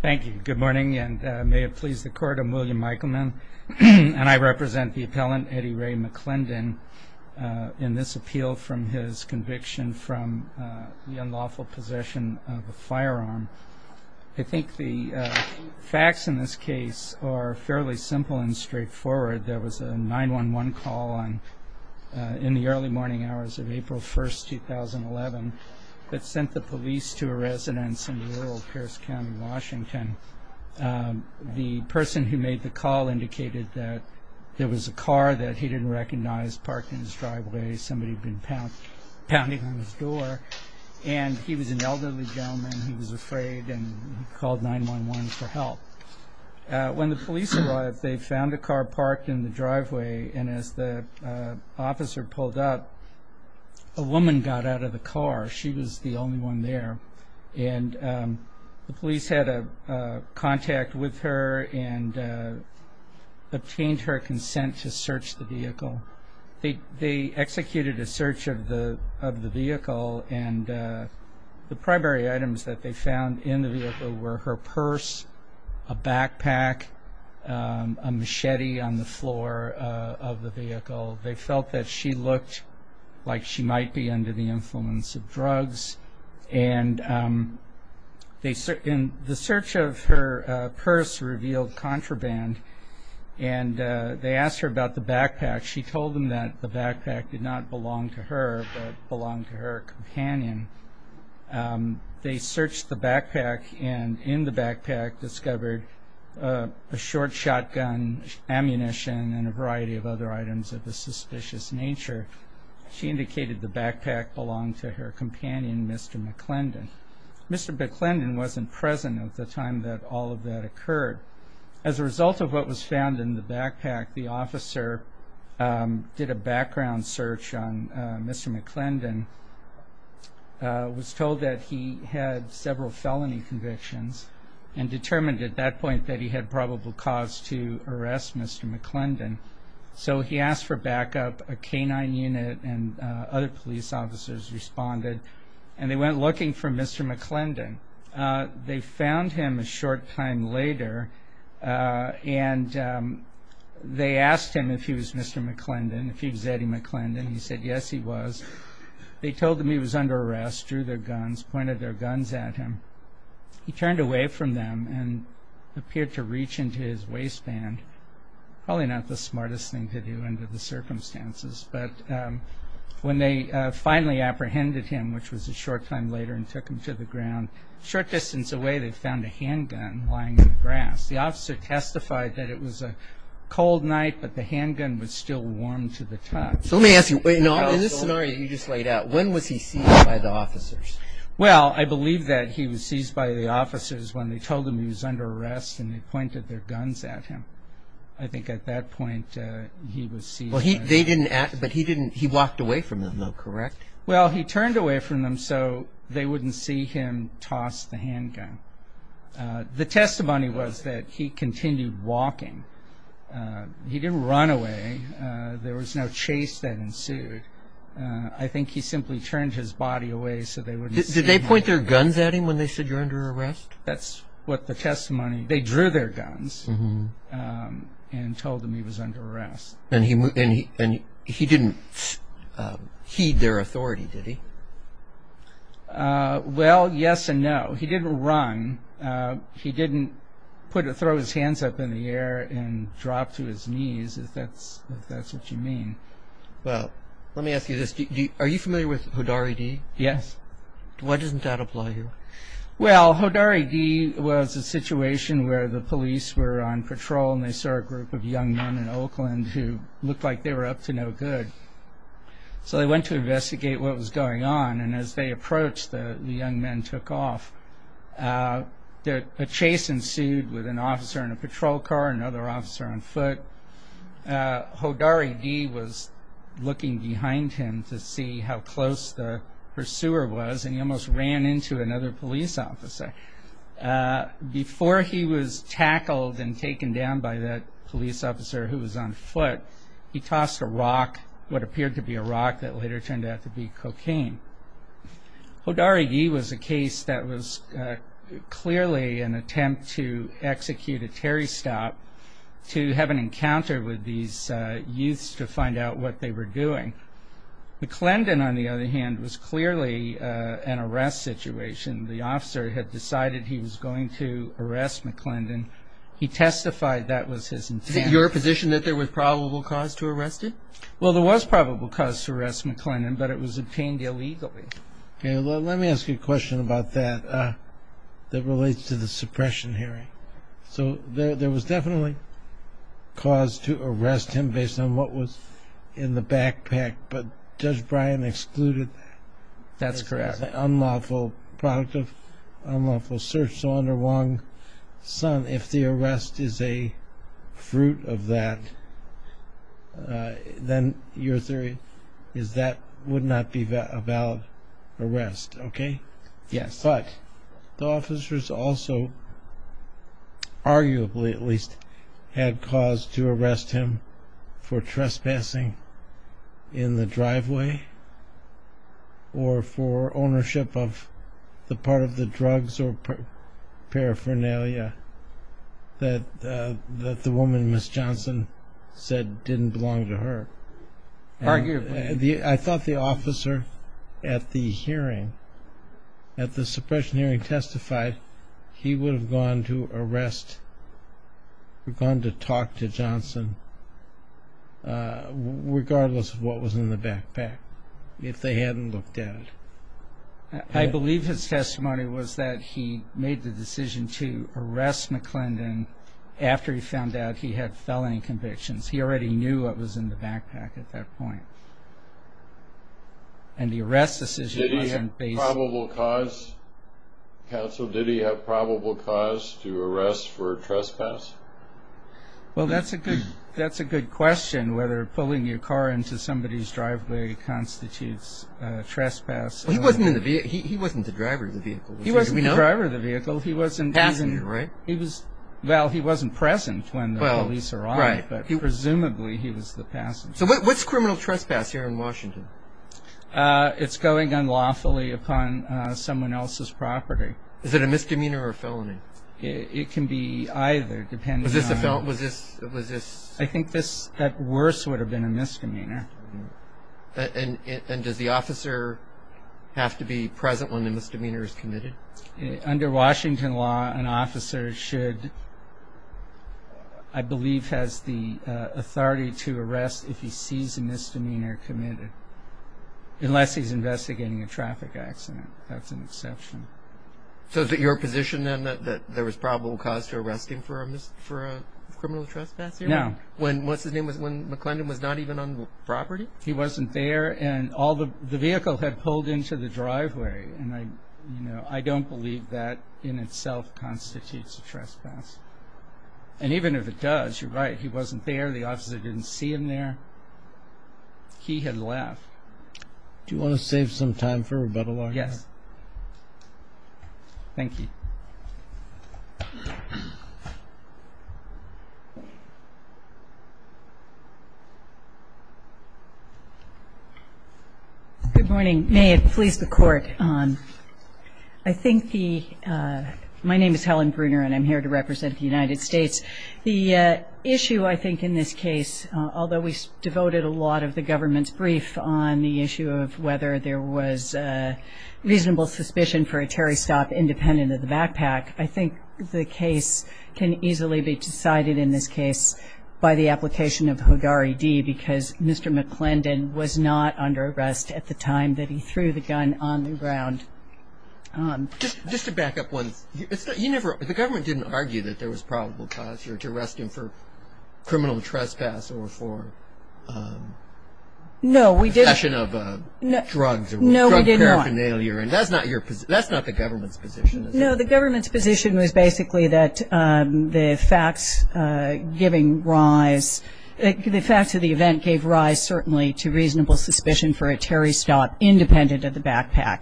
Thank you. Good morning, and may it please the court. I'm William Eichelman, and I represent the appellant Eddie Ray McClendon in this appeal from his conviction from the unlawful possession of a firearm. I think the facts in this case are fairly simple and straightforward. There was a 9-1-1 call on in the early morning hours of April 1st, 2011 that sent the police to a residence in rural Pierce County, Washington. The person who made the call indicated that there was a car that he didn't recognize parked in his driveway. Somebody had been pounding on his door, and he was an elderly gentleman. He was afraid and called 9-1-1 for help. When the police arrived, they found a car parked in the driveway, and as the officer pulled up, a car, she was the only one there, and the police had a contact with her and obtained her consent to search the vehicle. They executed a search of the vehicle, and the primary items that they found in the vehicle were her purse, a backpack, a machete on the floor of the vehicle. They felt that she looked like she might be under the influence of drugs, and the search of her purse revealed contraband, and they asked her about the backpack. She told them that the backpack did not belong to her, but belonged to her companion. They searched the backpack, and in the backpack discovered a short shotgun, ammunition, and a variety of other items of a suspicious nature. She indicated the backpack belonged to her companion, Mr. McClendon. Mr. McClendon wasn't present at the time that all of that occurred. As a result of what was found in the backpack, the officer did a background search on Mr. McClendon, was told that he had several felony convictions, and determined at that point that he had probable cause to arrest Mr. McClendon, so he asked for backup. A K-9 unit and other police officers responded, and they went looking for Mr. McClendon. They found him a short time later, and they asked him if he was Mr. McClendon, if he was Eddie McClendon. He said yes, he was. They told him he was under arrest, drew their guns, pointed their guns at him. He turned away from them and appeared to reach into his waistband, probably not the smartest thing to do under the circumstances, but when they finally apprehended him, which was a short time later, and took him to the ground, short distance away, they found a handgun lying in the grass. The officer testified that it was a cold night, but the handgun was still warm to the touch. So let me ask you, in this scenario you just laid out, when was he seized by the officers? Well, I believe that he was seized by the officers when they told him he was under arrest and they pointed their guns at him. I think at that point he was seized. Well, they didn't ask, but he didn't, he walked away from them though, correct? Well, he turned away from them so they wouldn't see him toss the handgun. The testimony was that he continued walking. He didn't run away. There was no chase that ensued. I think he simply turned his body away so they wouldn't see him. Did they point their guns at him when they said you're under arrest? That's what the testimony, they drew their guns. And told him he was under arrest. And he didn't heed their authority, did he? Well, yes and no. He didn't run. He didn't put, throw his hands up in the air and drop to his knees, if that's what you mean. Well, let me ask you this. Are you familiar with Hodari D? Yes. Why doesn't that apply here? Well, Hodari D was a situation where the police were on patrol and they saw a group of young men in Oakland who looked like they were up to no good. So they went to investigate what was going on. And as they approached, the young men took off. A chase ensued with an officer in a patrol car, another officer on foot. Hodari D was looking behind him to see how close the pursuer was. And he almost ran into another police officer. Before he was tackled and taken down by that police officer who was on foot, he tossed a rock, what appeared to be a rock that later turned out to be cocaine. Hodari D was a case that was clearly an attempt to execute a Terry stop to have an encounter with these youths to find out what they were doing. McClendon, on the other hand, was clearly an arrest situation. The officer had decided he was going to arrest McClendon. He testified that was his intention. Is it your position that there was probable cause to arrest him? Well, there was probable cause to arrest McClendon, but it was obtained illegally. Okay. Well, let me ask you a question about that. That relates to the suppression hearing. So there was definitely cause to arrest him based on what was in the backpack. But Judge Bryan excluded that. That's correct. It was an unlawful product of unlawful search. So under Wong-Sun, if the arrest is a fruit of that, then your theory is that would not be a valid arrest. Okay? Yes. But the officers also, arguably at least, had cause to arrest him for trespassing in the driveway or for ownership of the part of the drugs or paraphernalia that the woman, Ms. Johnson, said didn't belong to her. Arguably. I thought the officer at the hearing, at the suppression hearing, testified he would have gone to arrest, gone to talk to Johnson regardless of what was in the backpack if they hadn't looked at it. I believe his testimony was that he made the decision to arrest McClendon after he found out he had felony convictions. He already knew what was in the backpack at that point. And the arrest decision wasn't based... Did he have probable cause, counsel? Did he have probable cause to arrest for trespass? Well, that's a good question, whether pulling your car into somebody's driveway constitutes trespass. He wasn't the driver of the vehicle. He wasn't the driver of the vehicle. He wasn't... Passenger, right? Well, he wasn't present when the police arrived, but presumably he was the passenger. So what's criminal trespass here in Washington? It's going unlawfully upon someone else's property. Is it a misdemeanor or a felony? It can be either, depending on... Was this a felon? Was this... I think that worse would have been a misdemeanor. And does the officer have to be present when the misdemeanor is committed? Under Washington law, an officer should, I believe, has the authority to arrest if he sees a misdemeanor committed, unless he's investigating a traffic accident. That's an exception. So is it your position, then, that there was probable cause to arrest him for a criminal trespass here? No. When, what's his name, when McClendon was not even on the property? He wasn't there, and all the... The vehicle had pulled into the driveway, and I, you know, I don't believe that in itself constitutes a trespass. And even if it does, you're right, he wasn't there. The officer didn't see him there. He had left. Do you want to save some time for rebuttal, Arthur? Yes. Thank you. Good morning. May it please the court. I think the, my name is Helen Bruner, and I'm here to represent the United States. The issue, I think, in this case, although we devoted a lot of the government's brief on the issue of whether there was reasonable suspicion for a Terry stop independent of the backpack, I think the case can easily be decided, in this case, by the application of Hogari D, because Mr. McClendon was not under arrest at the time that he threw the gun on the ground. Just to back up once, you never, the government didn't argue that there was probable cause here to arrest him for criminal trespass or for. No, we didn't. The possession of drugs or drug paraphernalia, and that's not your, that's not the government's position, is it? No, the government's position was basically that the facts giving rise, the facts of the event gave rise, certainly, to reasonable suspicion for a Terry stop independent of the backpack.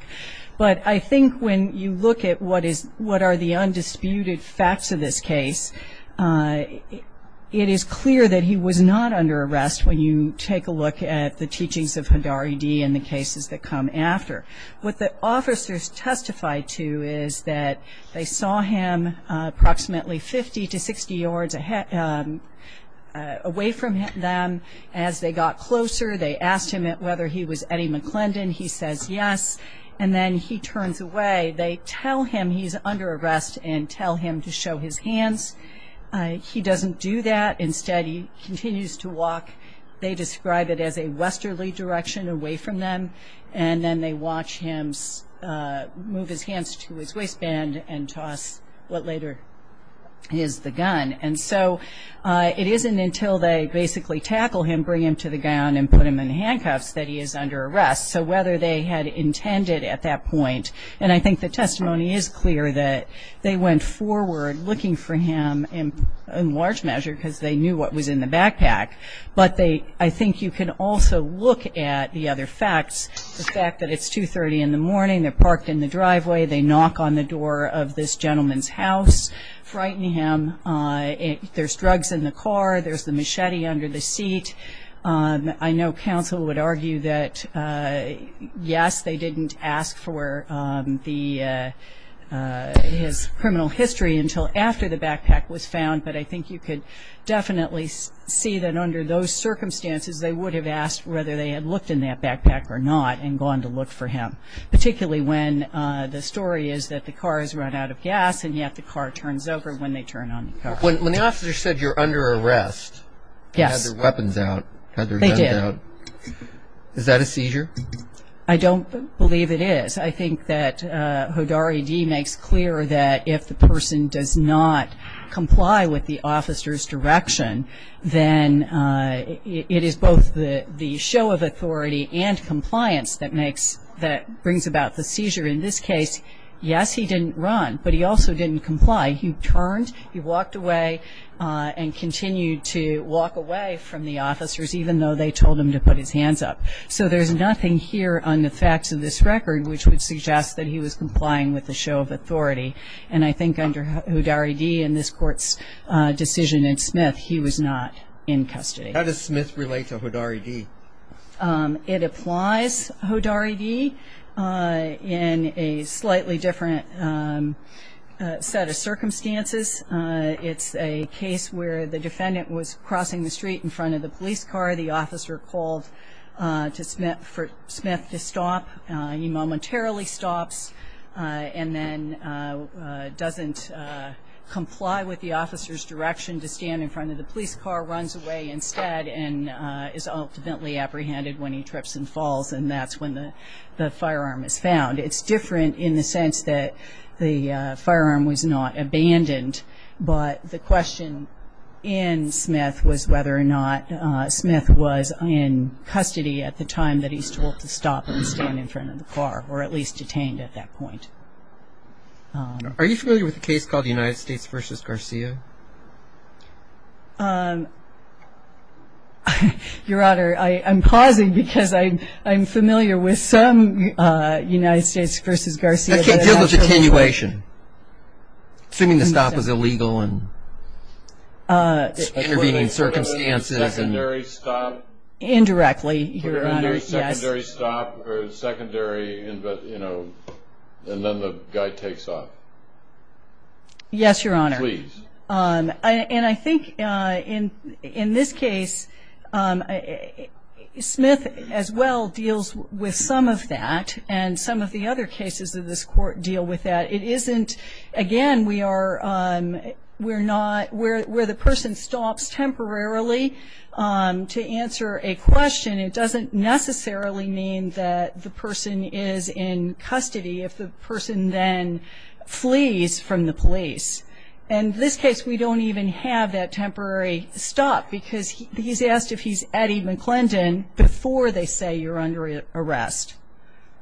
But I think when you look at what is, what are the undisputed facts of this case, it is clear that he was not under arrest when you take a look at the teachings of Hogari D and the cases that come after. What the officers testified to is that they saw him approximately 50 to 60 yards away from them. As they got closer, they asked him whether he was Eddie McClendon. He says yes, and then he turns away. They tell him he's under arrest and tell him to show his hands. He doesn't do that. Instead, he continues to walk, they describe it as a westerly direction away from them. And then they watch him move his hands to his waistband and toss what later is the gun. And so it isn't until they basically tackle him, bring him to the ground, and put him in handcuffs that he is under arrest. So whether they had intended at that point, and I think the testimony is clear that they went forward looking for him in large measure because they knew what was in the backpack, but I think you can also look at the other facts. The fact that it's 2.30 in the morning, they're parked in the driveway, they knock on the door of this gentleman's house, frightening him. There's drugs in the car, there's the machete under the seat. I know counsel would argue that yes, they didn't ask for his criminal history until after the backpack was found. But I think you could definitely see that under those circumstances, they would have asked whether they had looked in that backpack or not and gone to look for him. Particularly when the story is that the car is run out of gas and yet the car turns over when they turn on the car. When the officer said you're under arrest, they had their weapons out. They did. Is that a seizure? I don't believe it is. I think that Hodari D makes clear that if the person does not comply with the officer's direction, then it is both the show of authority and compliance that brings about the seizure. In this case, yes, he didn't run, but he also didn't comply. He turned, he walked away, and continued to walk away from the officers even though they told him to put his hands up. So there's nothing here on the facts of this record which would suggest that he was complying with the show of authority. And I think under Hodari D and this court's decision in Smith, he was not in custody. How does Smith relate to Hodari D? It applies, Hodari D, in a slightly different set of circumstances. It's a case where the defendant was crossing the street in front of the police car. The officer called for Smith to stop. He momentarily stops and then doesn't comply with the officer's direction to when he trips and falls, and that's when the firearm is found. It's different in the sense that the firearm was not abandoned, but the question in Smith was whether or not Smith was in custody at the time that he was told to stop and stand in front of the car, or at least detained at that point. Are you familiar with a case called United States versus Garcia? Your Honor, I'm pausing because I'm familiar with some United States versus Garcia- I can't deal with attenuation, assuming the stop was illegal and intervening in circumstances. And were they put under a secondary stop? Indirectly, Your Honor, yes. Were they put under a secondary stop or secondary, and then the guy takes off? Yes, Your Honor. And I think in this case, Smith as well deals with some of that, and some of the other cases of this court deal with that. It isn't, again, we're not, where the person stops temporarily to answer a question, it doesn't necessarily mean that the person is in custody if the person then goes to the police. And this case, we don't even have that temporary stop, because he's asked if he's Eddie McClendon before they say you're under arrest.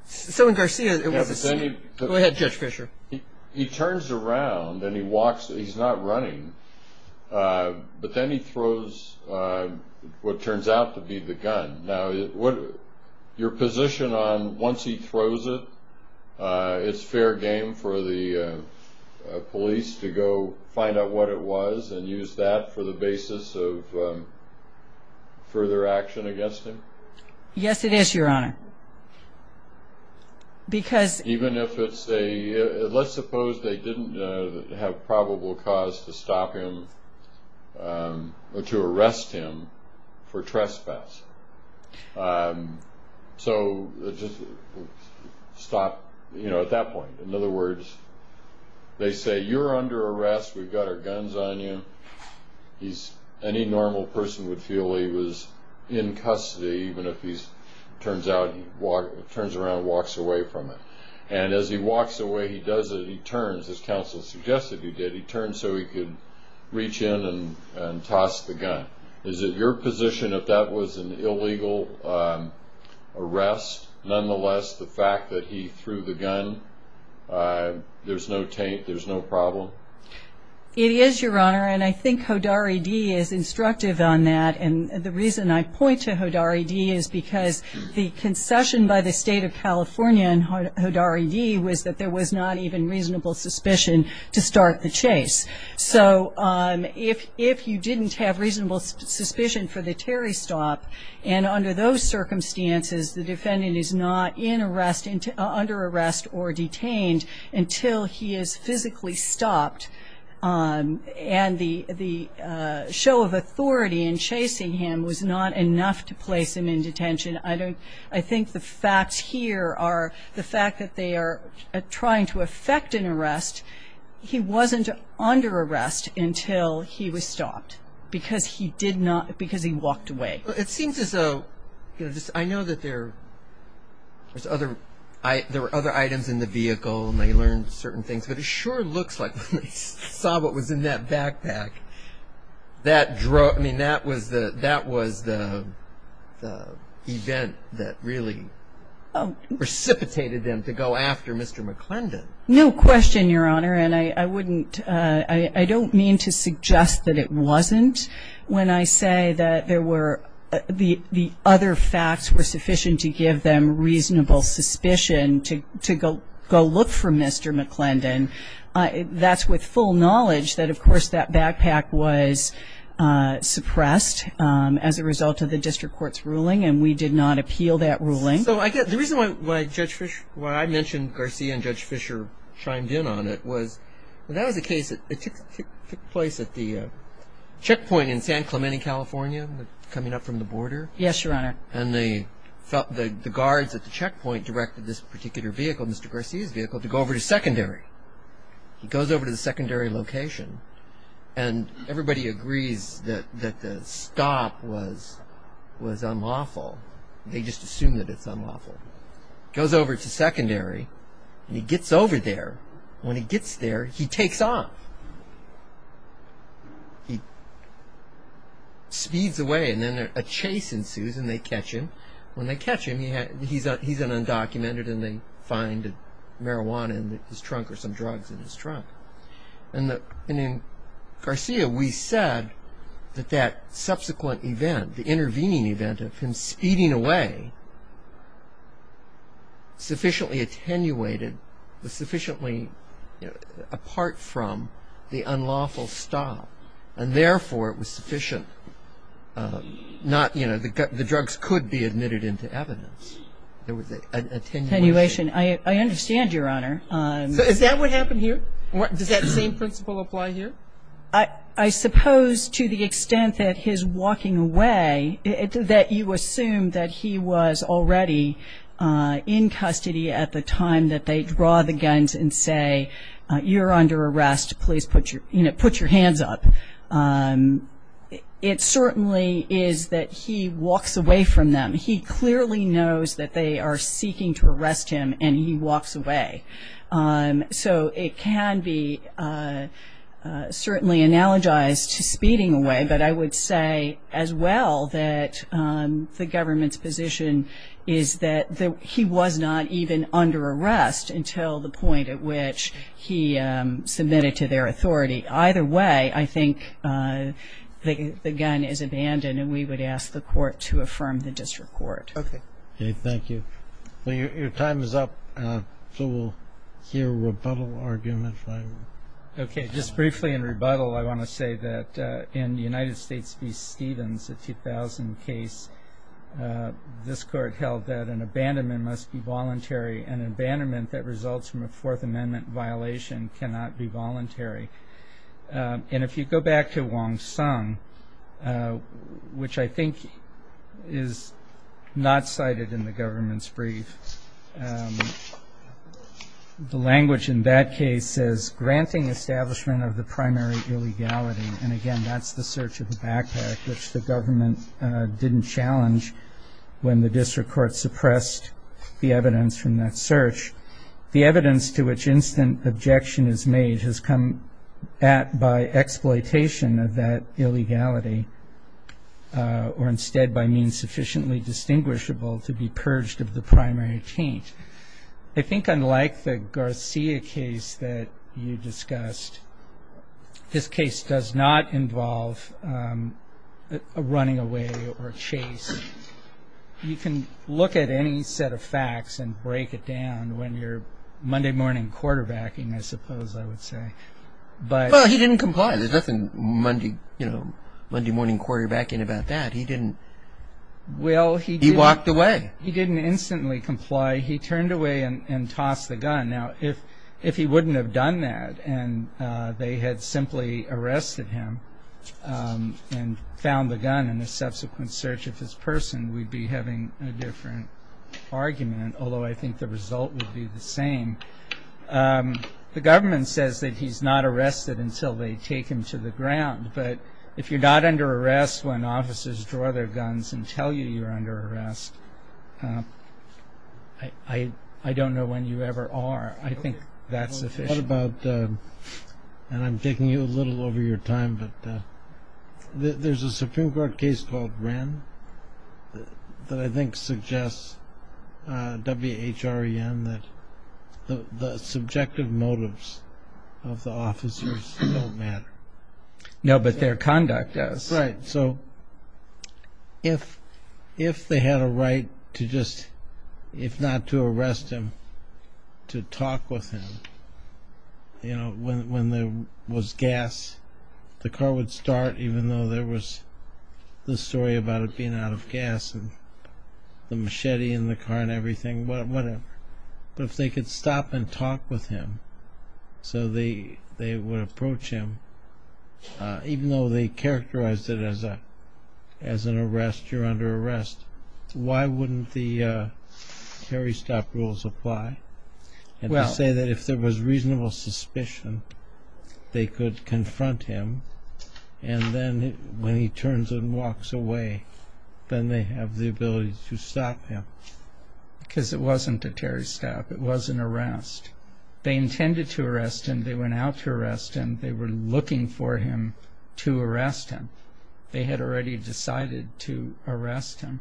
So in Garcia, it was a- Go ahead, Judge Fisher. He turns around and he walks, he's not running, but then he throws what turns out to be the gun. Now, your position on once he throws it, it's fair game for the police to go find out what it was and use that for the basis of further action against him? Yes, it is, Your Honor, because- Even if it's a, let's suppose they didn't have probable cause to stop him or to arrest him for trespass, so just stop at that point. In other words, they say, you're under arrest, we've got our guns on you. He's, any normal person would feel he was in custody, even if he turns around and walks away from it. And as he walks away, he does it, he turns, as counsel suggested he did, he turned so he could reach in and toss the gun. Is it your position if that was an illegal arrest, nonetheless, the fact that he threw the gun, there's no problem? It is, Your Honor, and I think Hodari D is instructive on that. And the reason I point to Hodari D is because the concession by the state of California and Hodari D was that there was not even reasonable suspicion to start the chase. So if you didn't have reasonable suspicion for the Terry stop, and under those circumstances, the defendant is not in arrest, under arrest or detained until he is physically stopped. And the show of authority in chasing him was not enough to place him in detention. I think the facts here are the fact that they are trying to effect an arrest. He wasn't under arrest until he was stopped, because he did not, because he walked away. It seems as though, I know that there were other items in the vehicle and they learned certain things, but it sure looks like when they saw what was in that backpack, that was the event that really precipitated them to go after Mr. McClendon. No question, Your Honor, and I don't mean to suggest that it wasn't. When I say that the other facts were sufficient to give them reasonable suspicion to go look for Mr. McClendon, that's with full knowledge that, of course, that backpack was suppressed as a result of the district court's ruling, and we did not appeal that ruling. So the reason why I mentioned Garcia and Judge Fisher chimed in on it was, that was a case that took place at the checkpoint in San Clemente, California, coming up from the border. Yes, Your Honor. And the guards at the checkpoint directed this particular vehicle, Mr. Garcia's vehicle, to go over to secondary. He goes over to the secondary location, and everybody agrees that the stop was unlawful. They just assume that it's unlawful. Goes over to secondary, and he gets over there. When he gets there, he takes off. He speeds away, and then a chase ensues, and they catch him. When they catch him, he's an undocumented, and they find marijuana in his trunk, or some drugs in his trunk. And in Garcia, we said that that subsequent event, the intervening event of him speeding away, sufficiently attenuated, was sufficiently apart from the unlawful stop. And therefore, it was sufficient, the drugs could be admitted into evidence. There was an attenuation. I understand, Your Honor. So is that what happened here? Does that same principle apply here? I suppose to the extent that his walking away, that you assume that he was already in custody at the time that they draw the guns and say, you're under arrest, please put your hands up. It certainly is that he walks away from them. He clearly knows that they are seeking to arrest him, and he walks away. So it can be certainly analogized to speeding away, but I would say as well that the government's position is that he was not even under arrest until the point at which he submitted to their authority. Either way, I think the gun is abandoned, and we would ask the court to affirm the disreport. Okay. Okay, thank you. Well, your time is up, so we'll hear a rebuttal argument, if I may. Okay, just briefly in rebuttal, I want to say that in the United States v. Stevens, a 2000 case, this court held that an abandonment must be voluntary, and an abandonment that results from a Fourth Amendment violation cannot be voluntary. And if you go back to Wong Sung, which I think is not cited in the government's brief, the language in that case says, granting establishment of the primary illegality. And again, that's the search of the backpack, which the government didn't challenge when the district court suppressed the evidence from that search. The evidence to which instant objection is made has come at by exploitation of that illegality, or instead by means sufficiently distinguishable to be purged of the primary taint. I think unlike the Garcia case that you discussed, this case does not involve a running away or a chase. You can look at any set of facts and break it down when you're Monday morning quarterbacking, I suppose I would say. But- Well, he didn't comply. There's nothing Monday morning quarterbacking about that. He didn't- Well, he didn't- He walked away. He didn't instantly comply. He turned away and tossed the gun. Now, if he wouldn't have done that and they had simply arrested him and found the gun in a subsequent search of his person, we'd be having a different argument, although I think the result would be the same. The government says that he's not arrested until they take him to the ground. But if you're not under arrest when officers draw their guns and tell you you're under arrest, I don't know when you ever are. I think that's sufficient. What about, and I'm taking you a little over your time, but there's a Supreme Court case called Wren that I think suggests, W-H-R-E-N, that the subjective motives of the officers don't matter. No, but their conduct does. Right, so if they had a right to just, if not to arrest him, to talk with him. You know, when there was gas, the car would start even though there was the story about it being out of gas and the machete in the car and everything. But if they could stop and talk with him, so they would approach him, even though they characterized it as an arrest, you're under arrest, why wouldn't the Terry Stop rules apply? And to say that if there was reasonable suspicion, they could confront him. And then when he turns and walks away, then they have the ability to stop him. Because it wasn't a Terry Stop, it was an arrest. They intended to arrest him, they went out to arrest him, they were looking for him to arrest him. They had already decided to arrest him.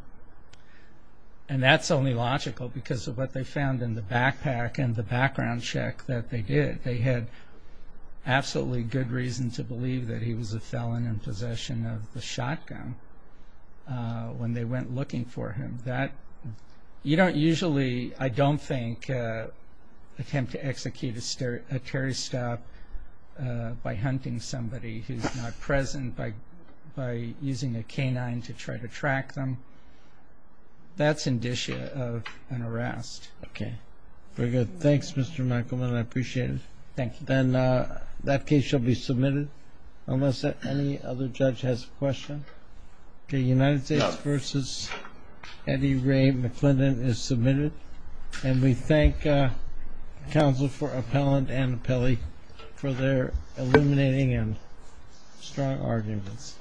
And that's only logical because of what they found in the backpack and the background check that they did. They had absolutely good reason to believe that he was a felon in possession of the shotgun when they went looking for him. That, you don't usually, I don't think, attempt to execute a Terry Stop by hunting somebody who's not present, by using a canine to try to track them. That's indicia of an arrest. Okay, very good. Thanks, Mr. Michaelman, I appreciate it. Thank you. Then that case shall be submitted unless any other judge has a question. The United States versus Eddie Ray McClendon is submitted. And we thank counsel for appellant and appellee for their illuminating and strong arguments.